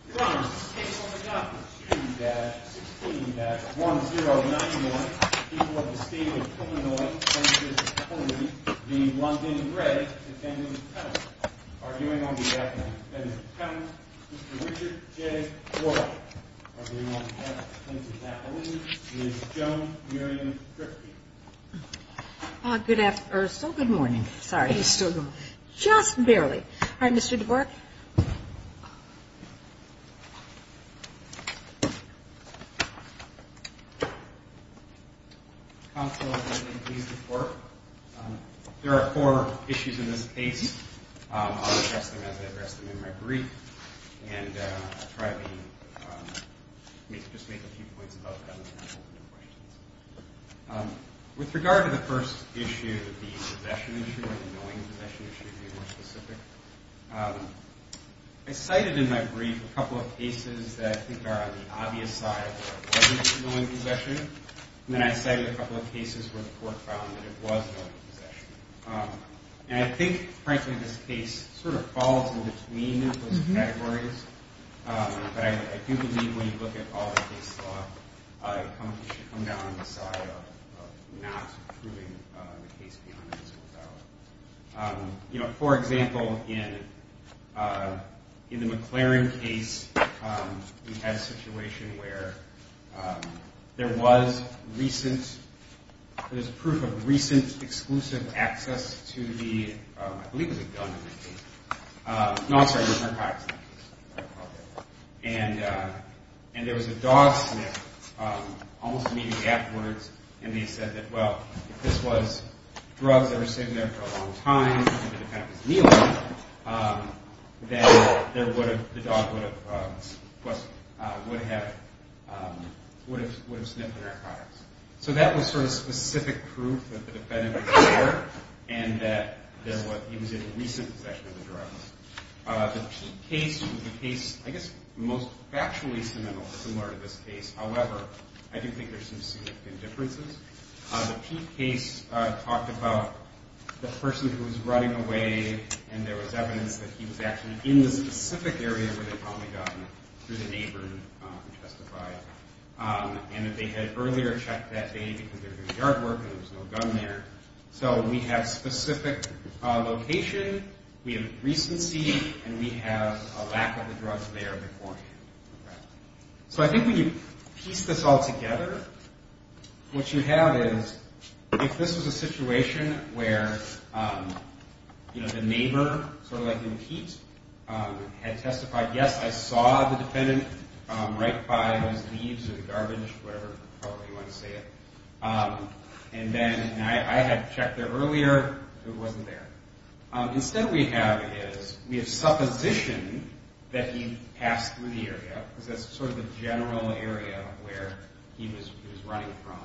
arguing on behalf of the defendant, Mr. Richard J. Boyle, arguing on behalf of the plaintiff's attorney, Ms. Joan Miriam Drifty. Counsel, if I may please report. There are four issues in this case. I'll address them as I address them in my brief, and I'll try to just make a few points about them. With regard to the first issue, the possession issue, or the knowing possession issue to be more specific, I cited in my brief a couple of cases that I think are on the obvious side where it wasn't knowing possession, and then I cited a couple of cases where the court found that it was knowing possession. And I think, frankly, this case sort of falls in between those categories, but I do believe when you look at all the case law, you should come down on the side of not proving the case beyond an insult. You know, for example, in the McLaren case, we had a situation where there was proof of recent exclusive access to the, I believe it was a gun in that case. No, I'm sorry, it was narcotics in that case. And there was a dog sniff almost immediately afterwards, and they said that, well, if this was drugs that were sitting there for a long time and the defendant was kneeling, then the dog would have sniffed the narcotics. So that was sort of specific proof that the defendant was there and that he was in recent possession of the drugs. The Peete case was the case, I guess, most factually similar to this case. However, I do think there's some significant differences. The Peete case talked about the person who was running away, and there was evidence that he was actually in the specific area where they found the gun through the neighbor who testified, and that they had earlier checked that day because there was no yard work and there was no gun there. So we have specific location, we have recency, and we have a lack of the drugs there beforehand. So I think when you piece this all together, what you have is, if this was a situation where, you know, the neighbor, sort of like in Peete, had testified, yes, I saw the defendant right by those leaves or garbage, whatever you want to say it. And then I had checked there earlier, it wasn't there. Instead we have is, we have supposition that he passed through the area, because that's sort of the general area where he was running from,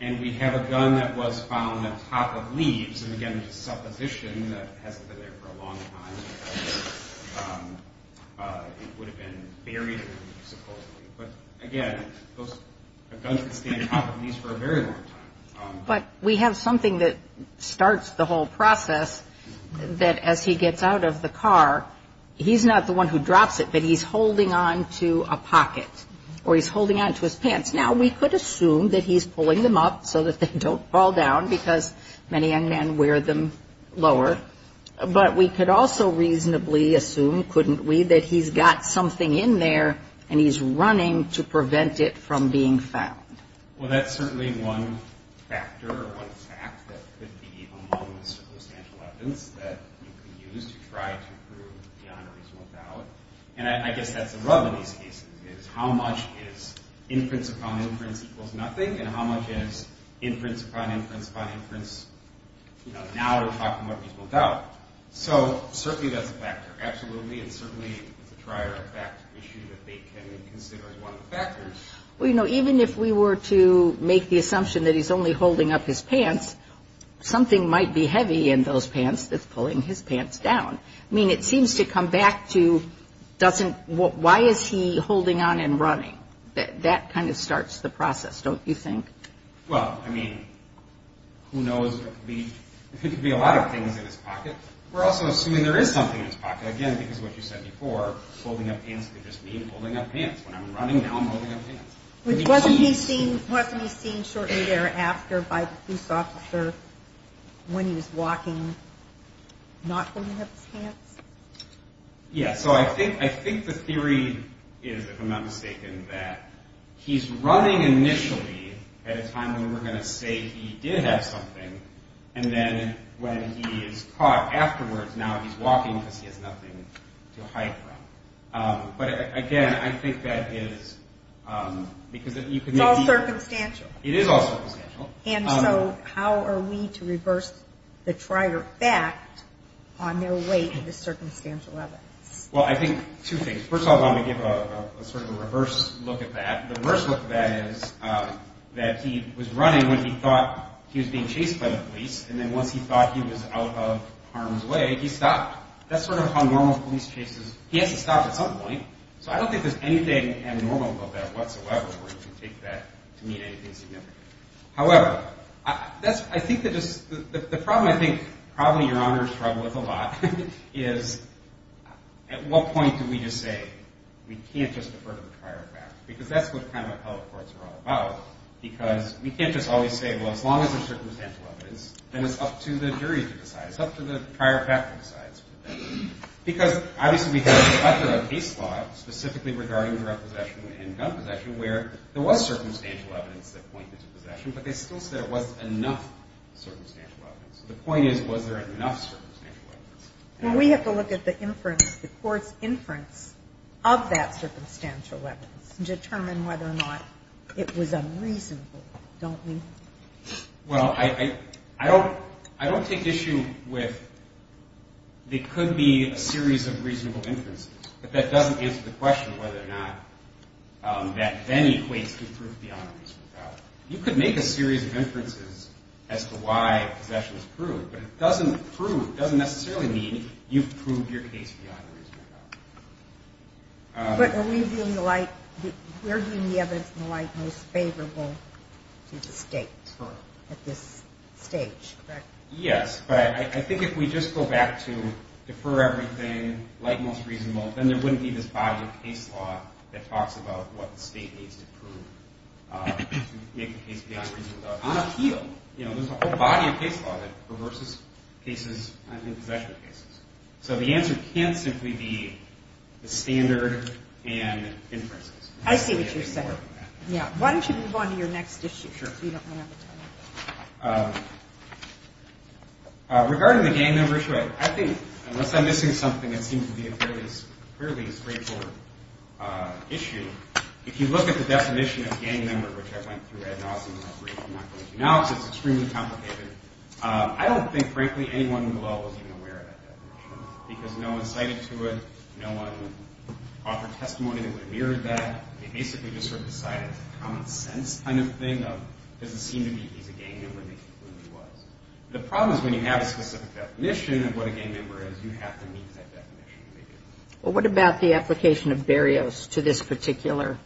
and we have a gun that was found on top of leaves, and again, supposition that it hasn't been there for a long time because it would have been buried supposedly. But we have something that starts the whole process, that as he gets out of the car, he's not the one who drops it, but he's holding on to a pocket, or he's holding on to his pants. Now, we could assume that he's pulling them up so that they don't fall down, because many young men wear them lower, but we could also reasonably assume, couldn't we, that he's got something in there and he's running to get it. Well, that's certainly one factor or one fact that could be among the circumstantial evidence that we could use to try to prove beyond a reasonable doubt, and I guess that's the rub in these cases, is how much is inference upon inference equals nothing, and how much is inference upon inference upon inference, you know, now we're talking about reasonable doubt. So certainly that's a factor, absolutely, and certainly it's a prior fact issue that they can consider as one of the factors. Well, you know, even if we were to make the assumption that he's only holding up his pants, something might be heavy in those pants that's pulling his pants down. I mean, it seems to come back to, why is he holding on and running? That kind of starts the process, don't you think? Well, I mean, who knows? There could be a lot of things in his pocket. We're also assuming there is something in his pocket, again, because what you said before, holding up pants could just mean holding up pants. When I'm running, now I'm holding up pants. Wasn't he seen shortly thereafter by the police officer when he was walking, not holding up his pants? Yeah, so I think the theory is, if I'm not mistaken, that he's running initially at a time when we're going to say he did have something, and then when he is caught afterwards, now he's walking because he has nothing to hide from. But again, I think that is, because you could... It's all circumstantial. It is all circumstantial. And so how are we to reverse the trier fact on their way to the circumstantial evidence? Well, I think two things. First of all, I'm going to give a sort of a reverse look at that. The reverse look at that is that he was running when he thought he was being chased by the police, and then once he thought he was out of harm's way, he stopped. That's sort of how normal police chase is. He has to stop at some point. So I don't think there's anything abnormal about that whatsoever where you can take that to mean anything significant. However, I think the problem I think probably Your Honor struggles with a lot is, at what point do we just say, we can't just defer to the trier fact? Because that's what kind of appellate courts are all about, because we can't just always say, well, as long as there's circumstantial evidence, then it's up to the jury to decide. Because obviously we have a case law specifically regarding drug possession and gun possession where there was circumstantial evidence that pointed to possession, but they still said it wasn't enough circumstantial evidence. So the point is, was there enough circumstantial evidence? Well, we have to look at the inference, the court's inference of that circumstantial evidence to determine whether or not it was unreasonable, don't we? Well, I don't take issue with it could be a series of reasonable inferences, but that doesn't answer the question of whether or not that then equates to proof beyond a reasonable doubt. You could make a series of inferences as to why possession was proved, but it doesn't necessarily mean you've proved your case beyond a reasonable doubt. But are we viewing the light, we're viewing the evidence in the light most favorable to the state at this stage, correct? Yes, but I think if we just go back to defer everything, light most reasonable, then there wouldn't be this body of case law that talks about what the state needs to prove to make the case beyond a reasonable doubt. But on appeal, you know, there's a whole body of case law that reverses cases, I think, possession cases. So the answer can't simply be the standard and inferences. I see what you're saying. Yeah. Why don't you move on to your next issue? Sure. You don't want to have to tell me. Regarding the gang member issue, I think, unless I'm missing something that seems to be a fairly straightforward issue, if you look at the definition of gang member, which I went through ad nauseum and I'm not going to do now because it's extremely complicated, I don't think, frankly, anyone in the law was even aware of that definition because no one cited to it, no one offered testimony that would have mirrored that. They basically just sort of decided it's a common sense kind of thing of does it seem to me he's a gang member and he really was. The problem is when you have a specific definition of what a gang member is, you have to meet that definition to make it. Well, what about the application of barriers to this particular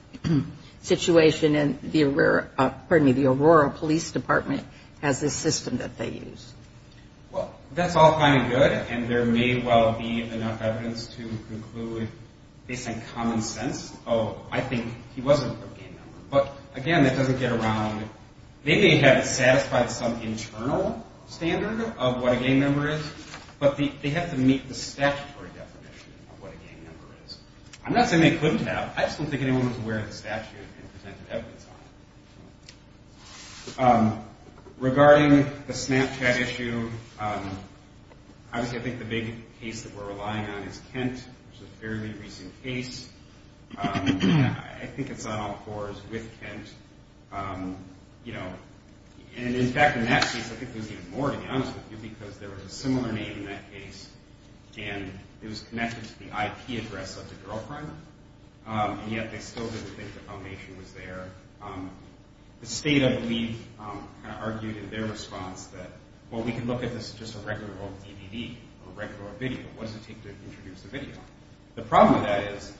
situation and the Aurora Police Department has this system that they use? Well, that's all kind of good and there may well be enough evidence to conclude based on common sense, oh, I think he wasn't a gang member. But, again, that doesn't get around. They may have satisfied some internal standard of what a gang member is, but they have to meet the statutory definition of what a gang member is. I'm not saying they couldn't have. I just don't think anyone was aware of the statute and presented evidence on it. Regarding the Snapchat issue, obviously I think the big case that we're relying on is Kent, which is a fairly recent case. I think it's on all fours with Kent. And, in fact, in that case I think there was even more to be honest with you because there was a similar name in that case and it was connected to the IP address of the girlfriend and yet they still didn't think the foundation was there. The state, I believe, kind of argued in their response that, well, we can look at this as just a regular old DVD or a regular old video. What does it take to introduce a video? The problem with that is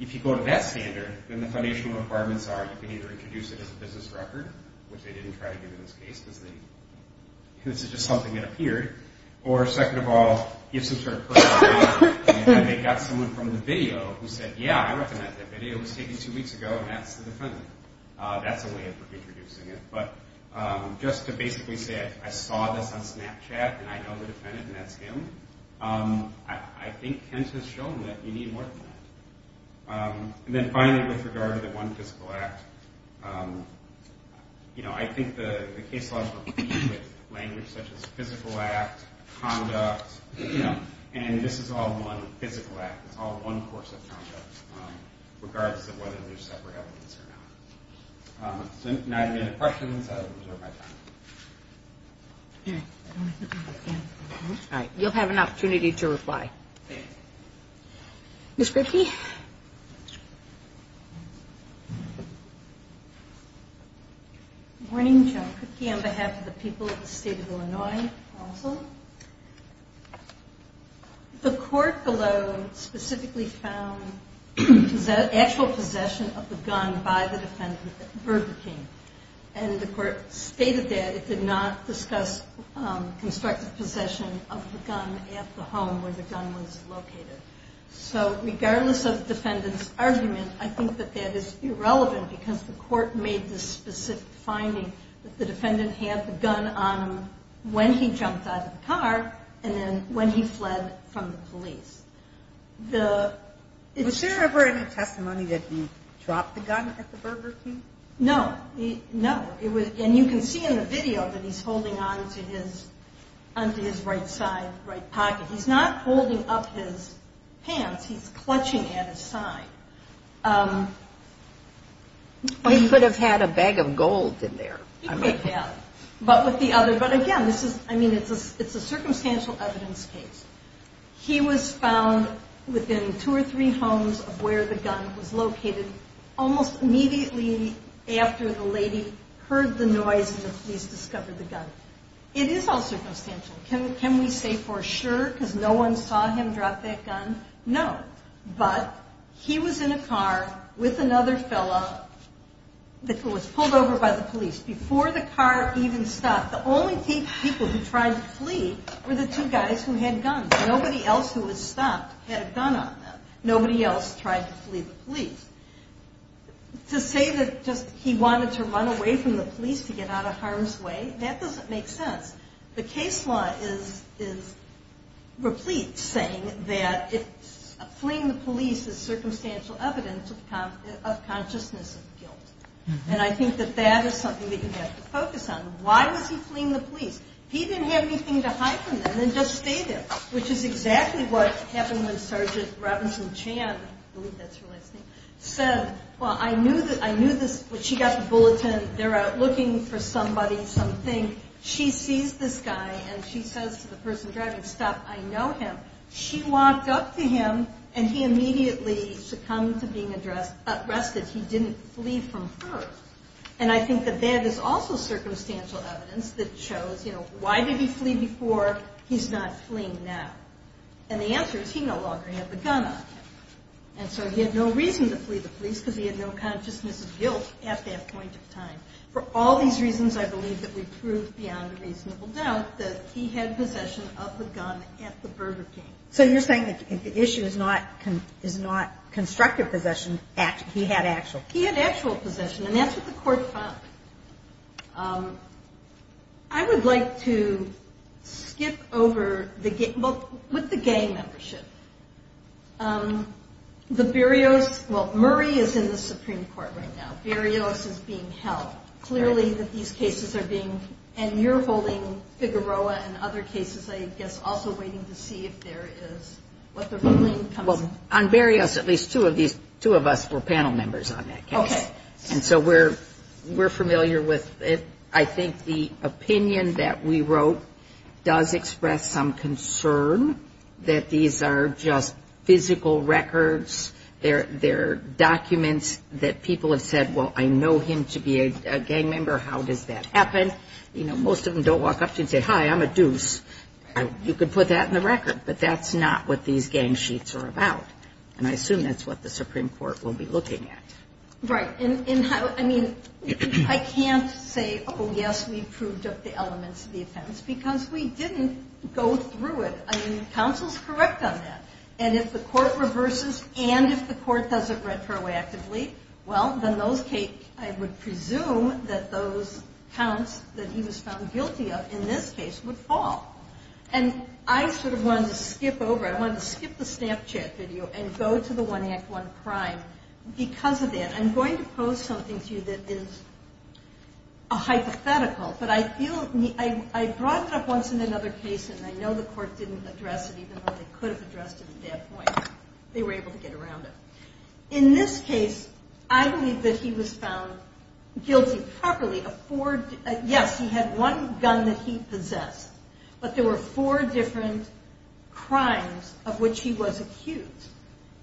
if you go to that standard, then the foundational requirements are you can either introduce it as a business record, which they didn't try to do in this case because this is just something that appeared, or, second of all, you have some sort of personal record and they got someone from the video who said, yeah, I recommend that video. It was taken two weeks ago and that's the defendant. That's a way of introducing it. But just to basically say I saw this on Snapchat and I know the defendant and that's him, I think hence it's shown that you need more than that. And then finally with regard to the one physical act, I think the case law is complete with language such as physical act, conduct, and this is all one physical act. It's all one course of conduct regardless of whether there's separate evidence or not. So now if you have any questions, I will reserve my time. All right. You'll have an opportunity to reply. Ms. Kripke? Good morning, Joan Kripke. On behalf of the people of the state of Illinois, also. The court below specifically found actual possession of the gun by the defendant, Burger King, and the court stated that it did not discuss constructive possession of the gun at the home where the gun was located. So regardless of the defendant's argument, I think that that is irrelevant because the court made this specific finding that the defendant had the gun on him when he jumped out of the car and then when he fled from the police. Was there ever any testimony that he dropped the gun at the Burger King? No. No. And you can see in the video that he's holding on to his right side, right pocket. He's not holding up his pants. He's clutching at his side. He could have had a bag of gold in there. He could have. But with the other, but again, this is, I mean, it's a circumstantial evidence case. He was found within two or three homes of where the gun was located almost immediately after the lady heard the noise and the police discovered the gun. It is all circumstantial. Can we say for sure because no one saw him drop that gun? No. But he was in a car with another fellow that was pulled over by the police. Before the car even stopped, the only people who tried to flee were the two guys who had guns. Nobody else who had stopped had a gun on them. Nobody else tried to flee the police. To say that just he wanted to run away from the police to get out of harm's way, that doesn't make sense. The case law is replete saying that fleeing the police is circumstantial evidence of consciousness of guilt. And I think that that is something that you have to focus on. Why was he fleeing the police? He didn't have anything to hide from them and just stay there, which is exactly what happened when Sergeant Robinson Chan, I believe that's her last name, said, well, I knew this when she got the bulletin. They're out looking for somebody, something. She sees this guy and she says to the person driving, stop, I know him. She walked up to him and he immediately succumbed to being arrested. He didn't flee from her. And I think that that is also circumstantial evidence that shows, you know, why did he flee before? He's not fleeing now. And the answer is he no longer had the gun on him. And so he had no reason to flee the police because he had no consciousness of guilt at that point in time. For all these reasons, I believe that we've proved beyond a reasonable doubt that he had possession of the gun at the Burger King. So you're saying that the issue is not constructive possession, he had actual? He had actual possession, and that's what the court found. I would like to skip over the gang membership. The Berrios, well, Murray is in the Supreme Court right now. Berrios is being held. Clearly these cases are being, and you're holding Figueroa and other cases, I guess, also waiting to see if there is, what the ruling comes? Well, on Berrios, at least two of us were panel members on that case. Okay. And so we're familiar with it. I think the opinion that we wrote does express some concern that these are just physical records. They're documents that people have said, well, I know him to be a gang member. How does that happen? You know, most of them don't walk up to you and say, hi, I'm a deuce. You could put that in the record. But that's not what these gang sheets are about. And I assume that's what the Supreme Court will be looking at. Right. I mean, I can't say, oh, yes, we proved up the elements of the offense, because we didn't go through it. I mean, counsel's correct on that. And if the court reverses and if the court does it retroactively, well, then those cases, I would presume that those counts that he was found guilty of in this case would fall. And I sort of wanted to skip over, I wanted to skip the Snapchat video and go to the 1 Act 1 crime because of that. I'm going to pose something to you that is a hypothetical, but I feel I brought it up once in another case, and I know the court didn't address it even though they could have addressed it at that point. They were able to get around it. In this case, I believe that he was found guilty properly of four – yes, he had one gun that he possessed, but there were four different crimes of which he was accused.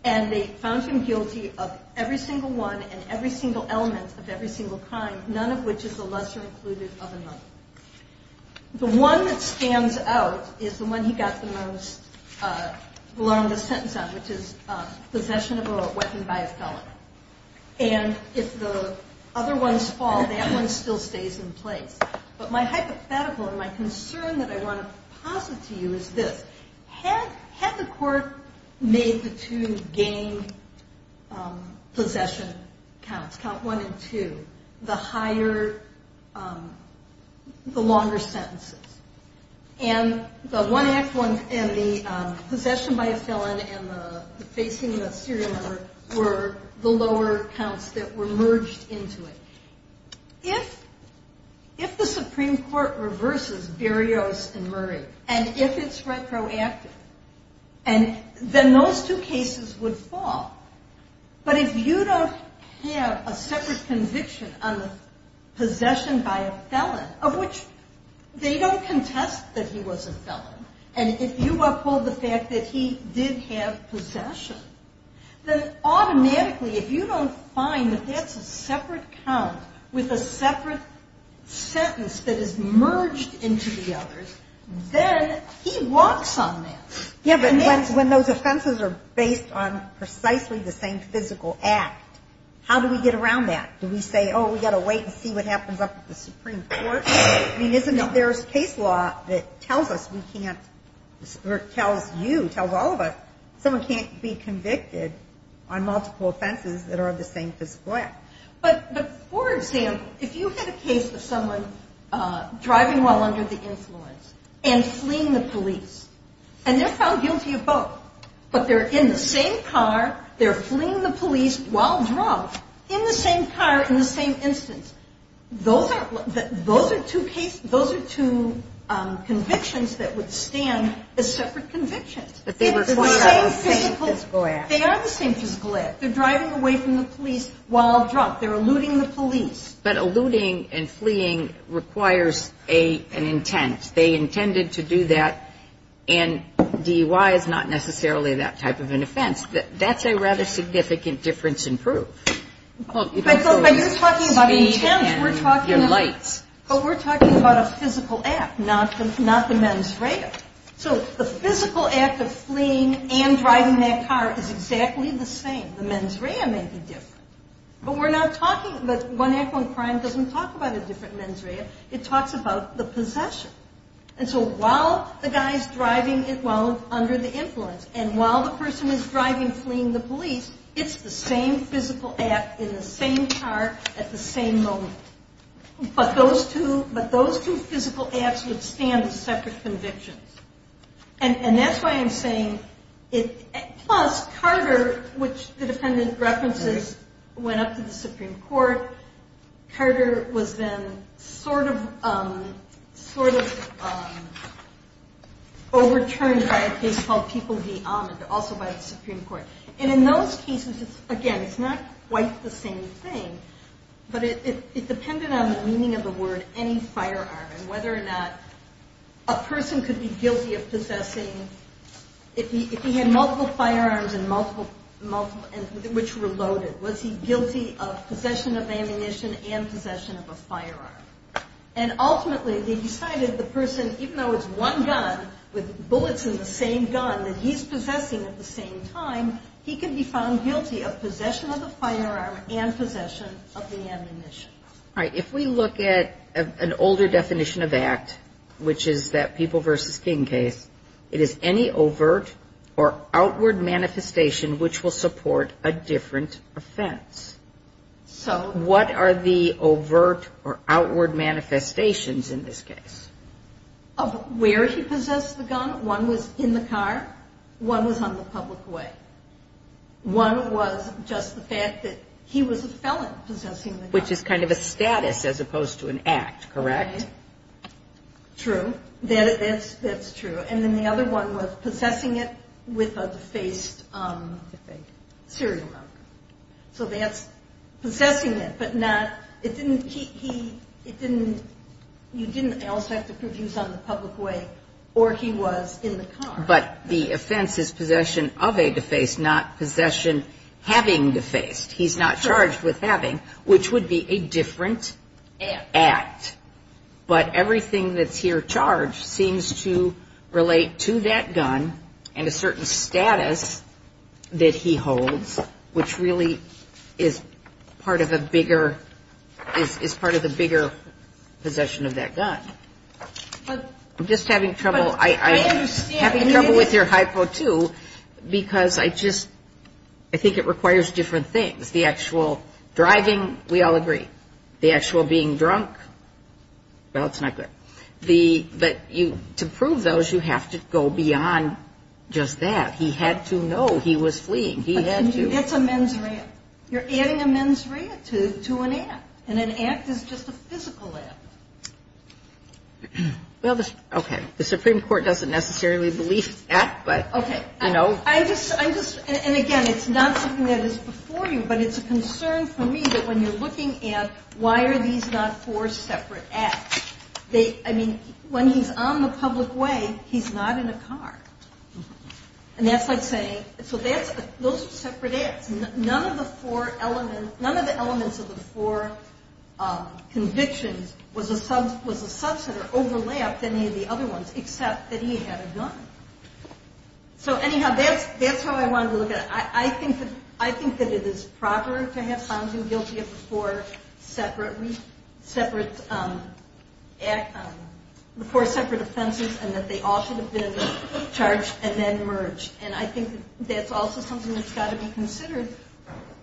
And they found him guilty of every single one and every single element of every single crime, none of which is the lesser included of another. The one that stands out is the one he got the most – which is possession of a weapon by a felon. And if the other ones fall, that one still stays in place. But my hypothetical and my concern that I want to posit to you is this. Had the court made the two game possession counts, Count 1 and 2, the higher – the longer sentences, and the one act one and the possession by a felon and the facing the serial murder were the lower counts that were merged into it. If the Supreme Court reverses Berrios and Murray, and if it's retroactive, then those two cases would fall. But if you don't have a separate conviction on the possession by a felon, of which they don't contest that he was a felon, and if you uphold the fact that he did have possession, then automatically if you don't find that that's a separate count with a separate sentence that is merged into the others, then he walks on that. Yeah, but when those offenses are based on precisely the same physical act, how do we get around that? Do we say, oh, we've got to wait and see what happens up at the Supreme Court? I mean, isn't it there's case law that tells us we can't – or tells you, tells all of us, someone can't be convicted on multiple offenses that are of the same physical act. But, for example, if you had a case of someone driving while under the influence and fleeing the police, and they're found guilty of both, but they're in the same car, they're fleeing the police while drunk, in the same car, in the same instance, those are two convictions that would stand as separate convictions. But they were part of the same physical act. They are the same physical act. They're driving away from the police while drunk. They're eluding the police. But eluding and fleeing requires an intent. They intended to do that, and DUI is not necessarily that type of an offense. That's a rather significant difference in proof. But you're talking about intent. We're talking about a physical act, not the mens rea. So the physical act of fleeing and driving that car is exactly the same. The mens rea may be different. But we're not talking – but one act, one crime doesn't talk about a different mens rea. It talks about the possession. And so while the guy's driving while under the influence, and while the person is driving fleeing the police, it's the same physical act in the same car at the same moment. But those two physical acts would stand as separate convictions. And that's why I'm saying it – plus Carter, which the defendant references, went up to the Supreme Court. Carter was then sort of overturned by a case called People v. Ahmed, also by the Supreme Court. And in those cases, again, it's not quite the same thing, but it depended on the meaning of the word any firearm and whether or not a person could be guilty of possessing – if he had multiple firearms which were loaded, was he guilty of possession of ammunition and possession of a firearm? And ultimately, they decided the person, even though it's one gun, with bullets in the same gun that he's possessing at the same time, he could be found guilty of possession of a firearm and possession of the ammunition. All right. If we look at an older definition of act, which is that People v. King case, it is any overt or outward manifestation which will support a different offense. So what are the overt or outward manifestations in this case? Of where he possessed the gun. One was in the car. One was on the public way. One was just the fact that he was a felon possessing the gun. Which is kind of a status as opposed to an act, correct? Okay. True. That's true. And then the other one was possessing it with a defaced serial number. So that's possessing it, but not – it didn't – he – it didn't – you didn't also have to prove he was on the public way or he was in the car. But the offense is possession of a defaced, not possession having defaced. He's not charged with having, which would be a different act. But everything that's here charged seems to relate to that gun and a certain status that he holds, which really is part of a bigger – is part of a bigger possession of that gun. I'm just having trouble – I'm having trouble with your hypo, too, because I just – I think it requires different things. The actual driving, we all agree. The actual being drunk, well, it's not good. The – but you – to prove those, you have to go beyond just that. He had to know he was fleeing. He had to. That's a mens rea. You're adding a mens rea to an act, and an act is just a physical act. Well, okay. The Supreme Court doesn't necessarily believe that, but, you know. Okay. I just – I just – and, again, it's not something that is before you, but it's a concern for me that when you're looking at, why are these not four separate acts? They – I mean, when he's on the public way, he's not in a car. And that's like saying – so that's – those are separate acts. None of the four elements – none of the elements of the four convictions was a – was a subset or overlapped any of the other ones, except that he had a gun. So, anyhow, that's how I wanted to look at it. I mean, I think that it is proper to have found him guilty of the four separate – separate – the four separate offenses and that they ought to have been charged and then merged. And I think that's also something that's got to be considered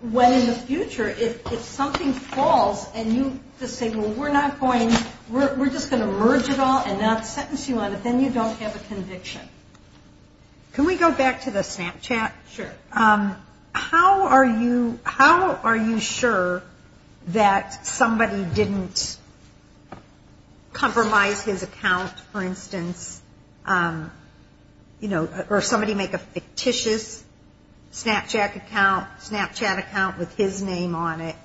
when, in the future, if something falls and you just say, well, we're not going – we're just going to merge it all and not sentence you on it, then you don't have a conviction. Can we go back to the Snapchat? Sure. How are you – how are you sure that somebody didn't compromise his account, for instance, you know, or somebody make a fictitious Snapchat account, Snapchat account with his name on it,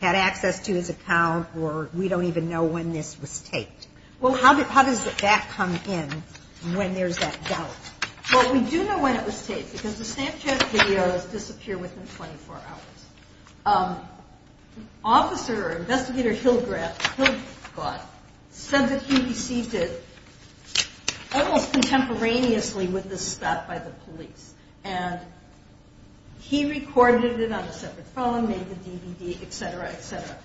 had access to his account, or we don't even know when this was taped? Well, how does that come in when there's that doubt? Well, we do know when it was taped because the Snapchat videos disappear within 24 hours. Officer, investigator Hill-Gott said that he received it almost contemporaneously with the stop by the police. And he recorded it on a separate phone, made the DVD, et cetera, et cetera.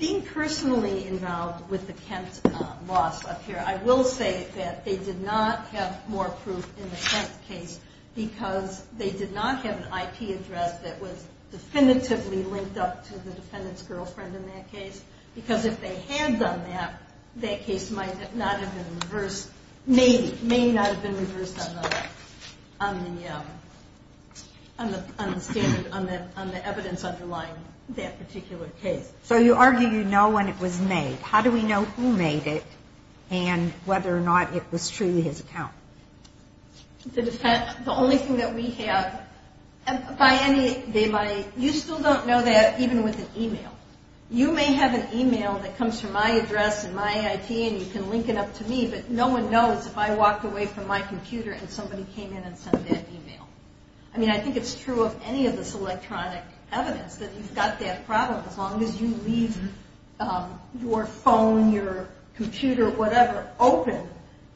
Being personally involved with the Kent loss up here, I will say that they did not have more proof in the Kent case because they did not have an IP address that was definitively linked up to the defendant's girlfriend in that case because if they had done that, that case might not have been reversed – may not have been reversed on the evidence underlying that particular case. So you argue you know when it was made. How do we know who made it and whether or not it was truly his account? The only thing that we have, by any – you still don't know that even with an email. You may have an email that comes from my address and my IP and you can link it up to me, but no one knows if I walked away from my computer and somebody came in and sent that email. I mean, I think it's true of any of this electronic evidence that you've got that problem. As long as you leave your phone, your computer, whatever, open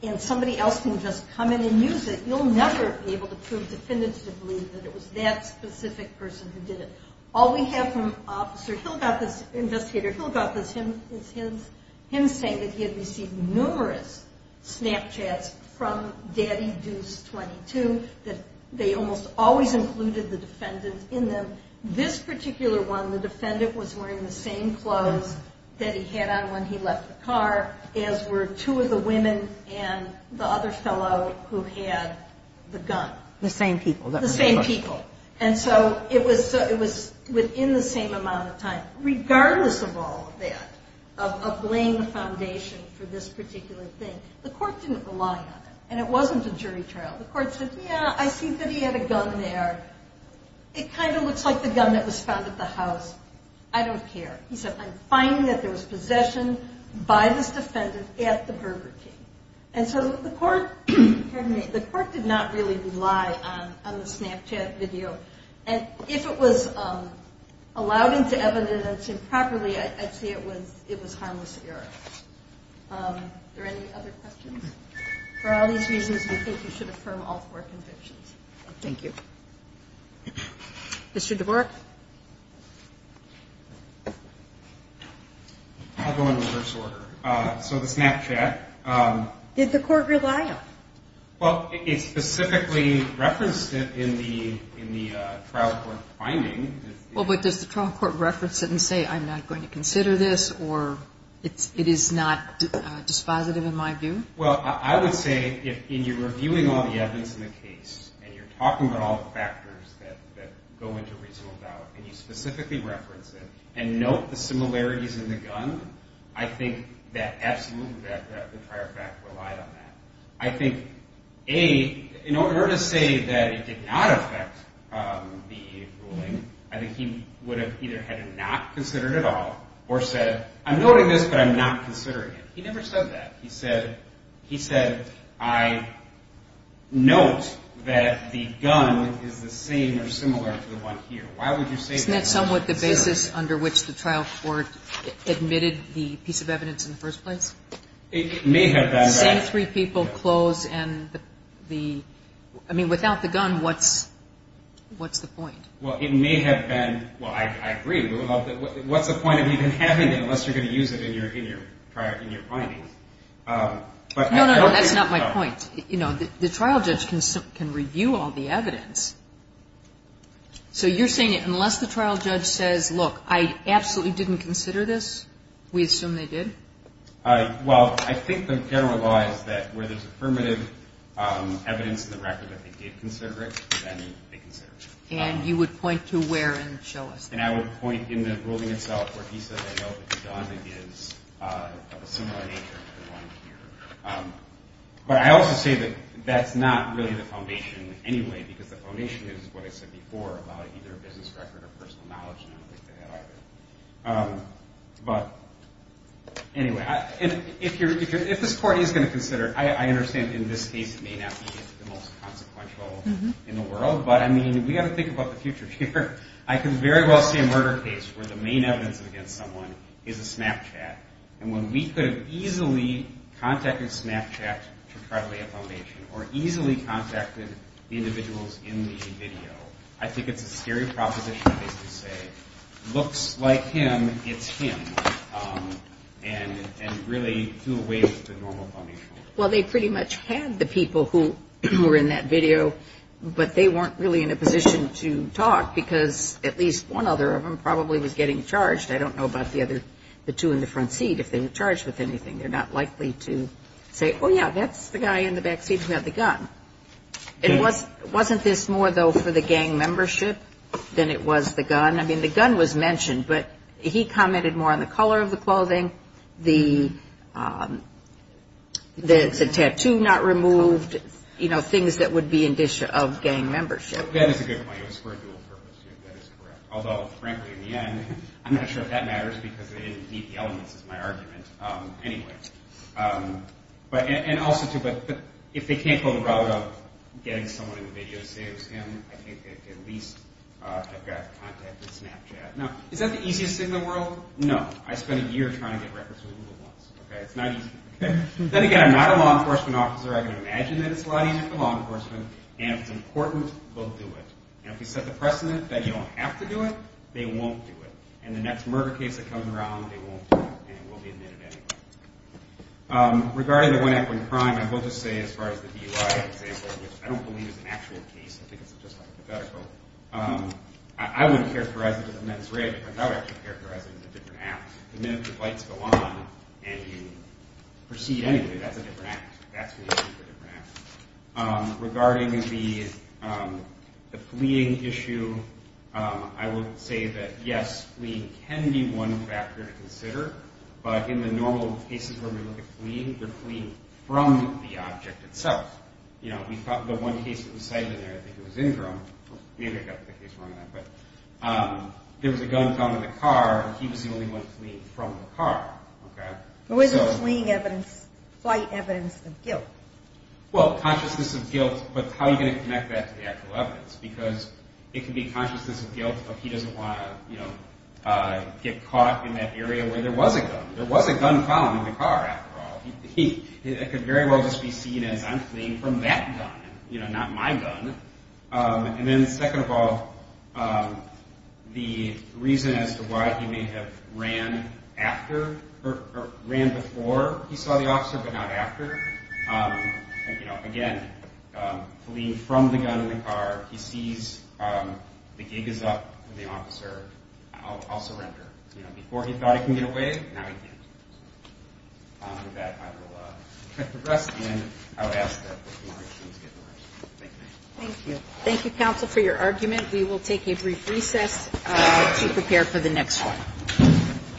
and somebody else can just come in and use it, you'll never be able to prove definitively that it was that specific person who did it. All we have from Officer Hilgothis, investigator Hilgothis, is him saying that he had received numerous Snapchats from DaddyDeuce22 that they almost always included the defendant in them. This particular one, the defendant was wearing the same clothes that he had on when he left the car as were two of the women and the other fellow who had the gun. The same people. The same people. And so it was within the same amount of time. Regardless of all of that, of laying the foundation for this particular thing, the court didn't rely on it and it wasn't a jury trial. The court said, yeah, I see that he had a gun there. It kind of looks like the gun that was found at the house. I don't care. He said, I'm finding that there was possession by this defendant at the Burger King. And so the court did not really rely on the Snapchat video. And if it was allowed into evidence improperly, I'd say it was harmless error. Are there any other questions? For all these reasons, we think you should affirm all four convictions. Thank you. Mr. DeBork? I'll go in reverse order. So the Snapchat. Did the court rely on it? Well, it specifically referenced it in the trial court finding. Well, but does the trial court reference it and say, I'm not going to consider this, or it is not dispositive in my view? Well, I would say in your reviewing all the evidence in the case and you're talking about all the factors that go into reasonable doubt and you specifically reference it and note the similarities in the gun, I think that absolutely the prior fact relied on that. I think, A, in order to say that it did not affect the ruling, I think he would have either had it not considered at all or said, I'm noting this, but I'm not considering it. He never said that. He said, I note that the gun is the same or similar to the one here. Why would you say that? Isn't that somewhat the basis under which the trial court admitted the piece of evidence in the first place? It may have been. Say three people close and the ñ I mean, without the gun, what's the point? Well, it may have been. Well, I agree. What's the point of even having it unless you're going to use it in your findings? No, no, no. That's not my point. You know, the trial judge can review all the evidence. So you're saying unless the trial judge says, look, I absolutely didn't consider this, we assume they did? Well, I think the general law is that where there's affirmative evidence in the record that they did consider it, then they considered it. And you would point to where and show us that? And I would point in the ruling itself where he said, I note that the gun is of a similar nature to the one here. But I also say that that's not really the foundation anyway, because the foundation is what I said before about either a business record or personal knowledge, and I don't think they had either. But anyway, if this court is going to consider it, I understand in this case it may not be the most consequential in the world. But, I mean, we've got to think about the future here. I can very well see a murder case where the main evidence against someone is a Snapchat. And when we could have easily contacted Snapchat to try to lay a foundation or easily contacted the individuals in the video, I think it's a stereotypical case to say, looks like him, it's him, and really do away with the normal foundation. Well, they pretty much had the people who were in that video, but they weren't really in a position to talk because at least one other of them probably was getting charged. I don't know about the two in the front seat, if they were charged with anything. They're not likely to say, oh, yeah, that's the guy in the back seat who had the gun. Wasn't this more, though, for the gang membership than it was the gun? I mean, the gun was mentioned, but he commented more on the color of the clothing, the tattoo not removed, things that would be indicative of gang membership. That is a good point. It was for a dual purpose. That is correct. Although, frankly, in the end, I'm not sure if that matters because they didn't meet the elements, is my argument. Anyway, and also, too, if they can't go the route of getting someone in the video to say it was him, I think they could at least have gotten in contact with Snapchat. Now, is that the easiest thing in the world? No. I spent a year trying to get records with Google once. It's not easy. Then again, I'm not a law enforcement officer. I can imagine that it's a lot easier for law enforcement. And if it's important, they'll do it. And if you set the precedent that you don't have to do it, they won't do it. And the next murder case that comes around, they won't do it, and it won't be admitted anyway. Regarding the one-act-one-crime, I will just say, as far as the DUI, I don't believe it's an actual case. I think it's just hypothetical. I wouldn't characterize it as a men's rape. I would actually characterize it as a different act. The minute the lights go on and you proceed anyway, that's a different act. That's when you do a different act. Regarding the fleeing issue, I would say that, yes, fleeing can be one factor to consider. But in the normal cases where we look at fleeing, they're fleeing from the object itself. You know, the one case that we cited in there, I think it was Ingram. Maybe I got the case wrong on that. There was a gun found in the car, and he was the only one fleeing from the car. Who isn't fleeing flight evidence of guilt? Well, consciousness of guilt, but how are you going to connect that to the actual evidence? Because it can be consciousness of guilt if he doesn't want to get caught in that area where there was a gun. There was a gun found in the car, after all. It could very well just be seen as, I'm fleeing from that gun, not my gun. And then second of all, the reason as to why he may have ran after or ran before he saw the officer but not after. Again, fleeing from the gun in the car, he sees the gig is up, the officer, I'll surrender. Before he thought he could get away, now he can't. With that, I will address the end. Thank you. Thank you, counsel, for your argument. We will take a brief recess to prepare for the next one.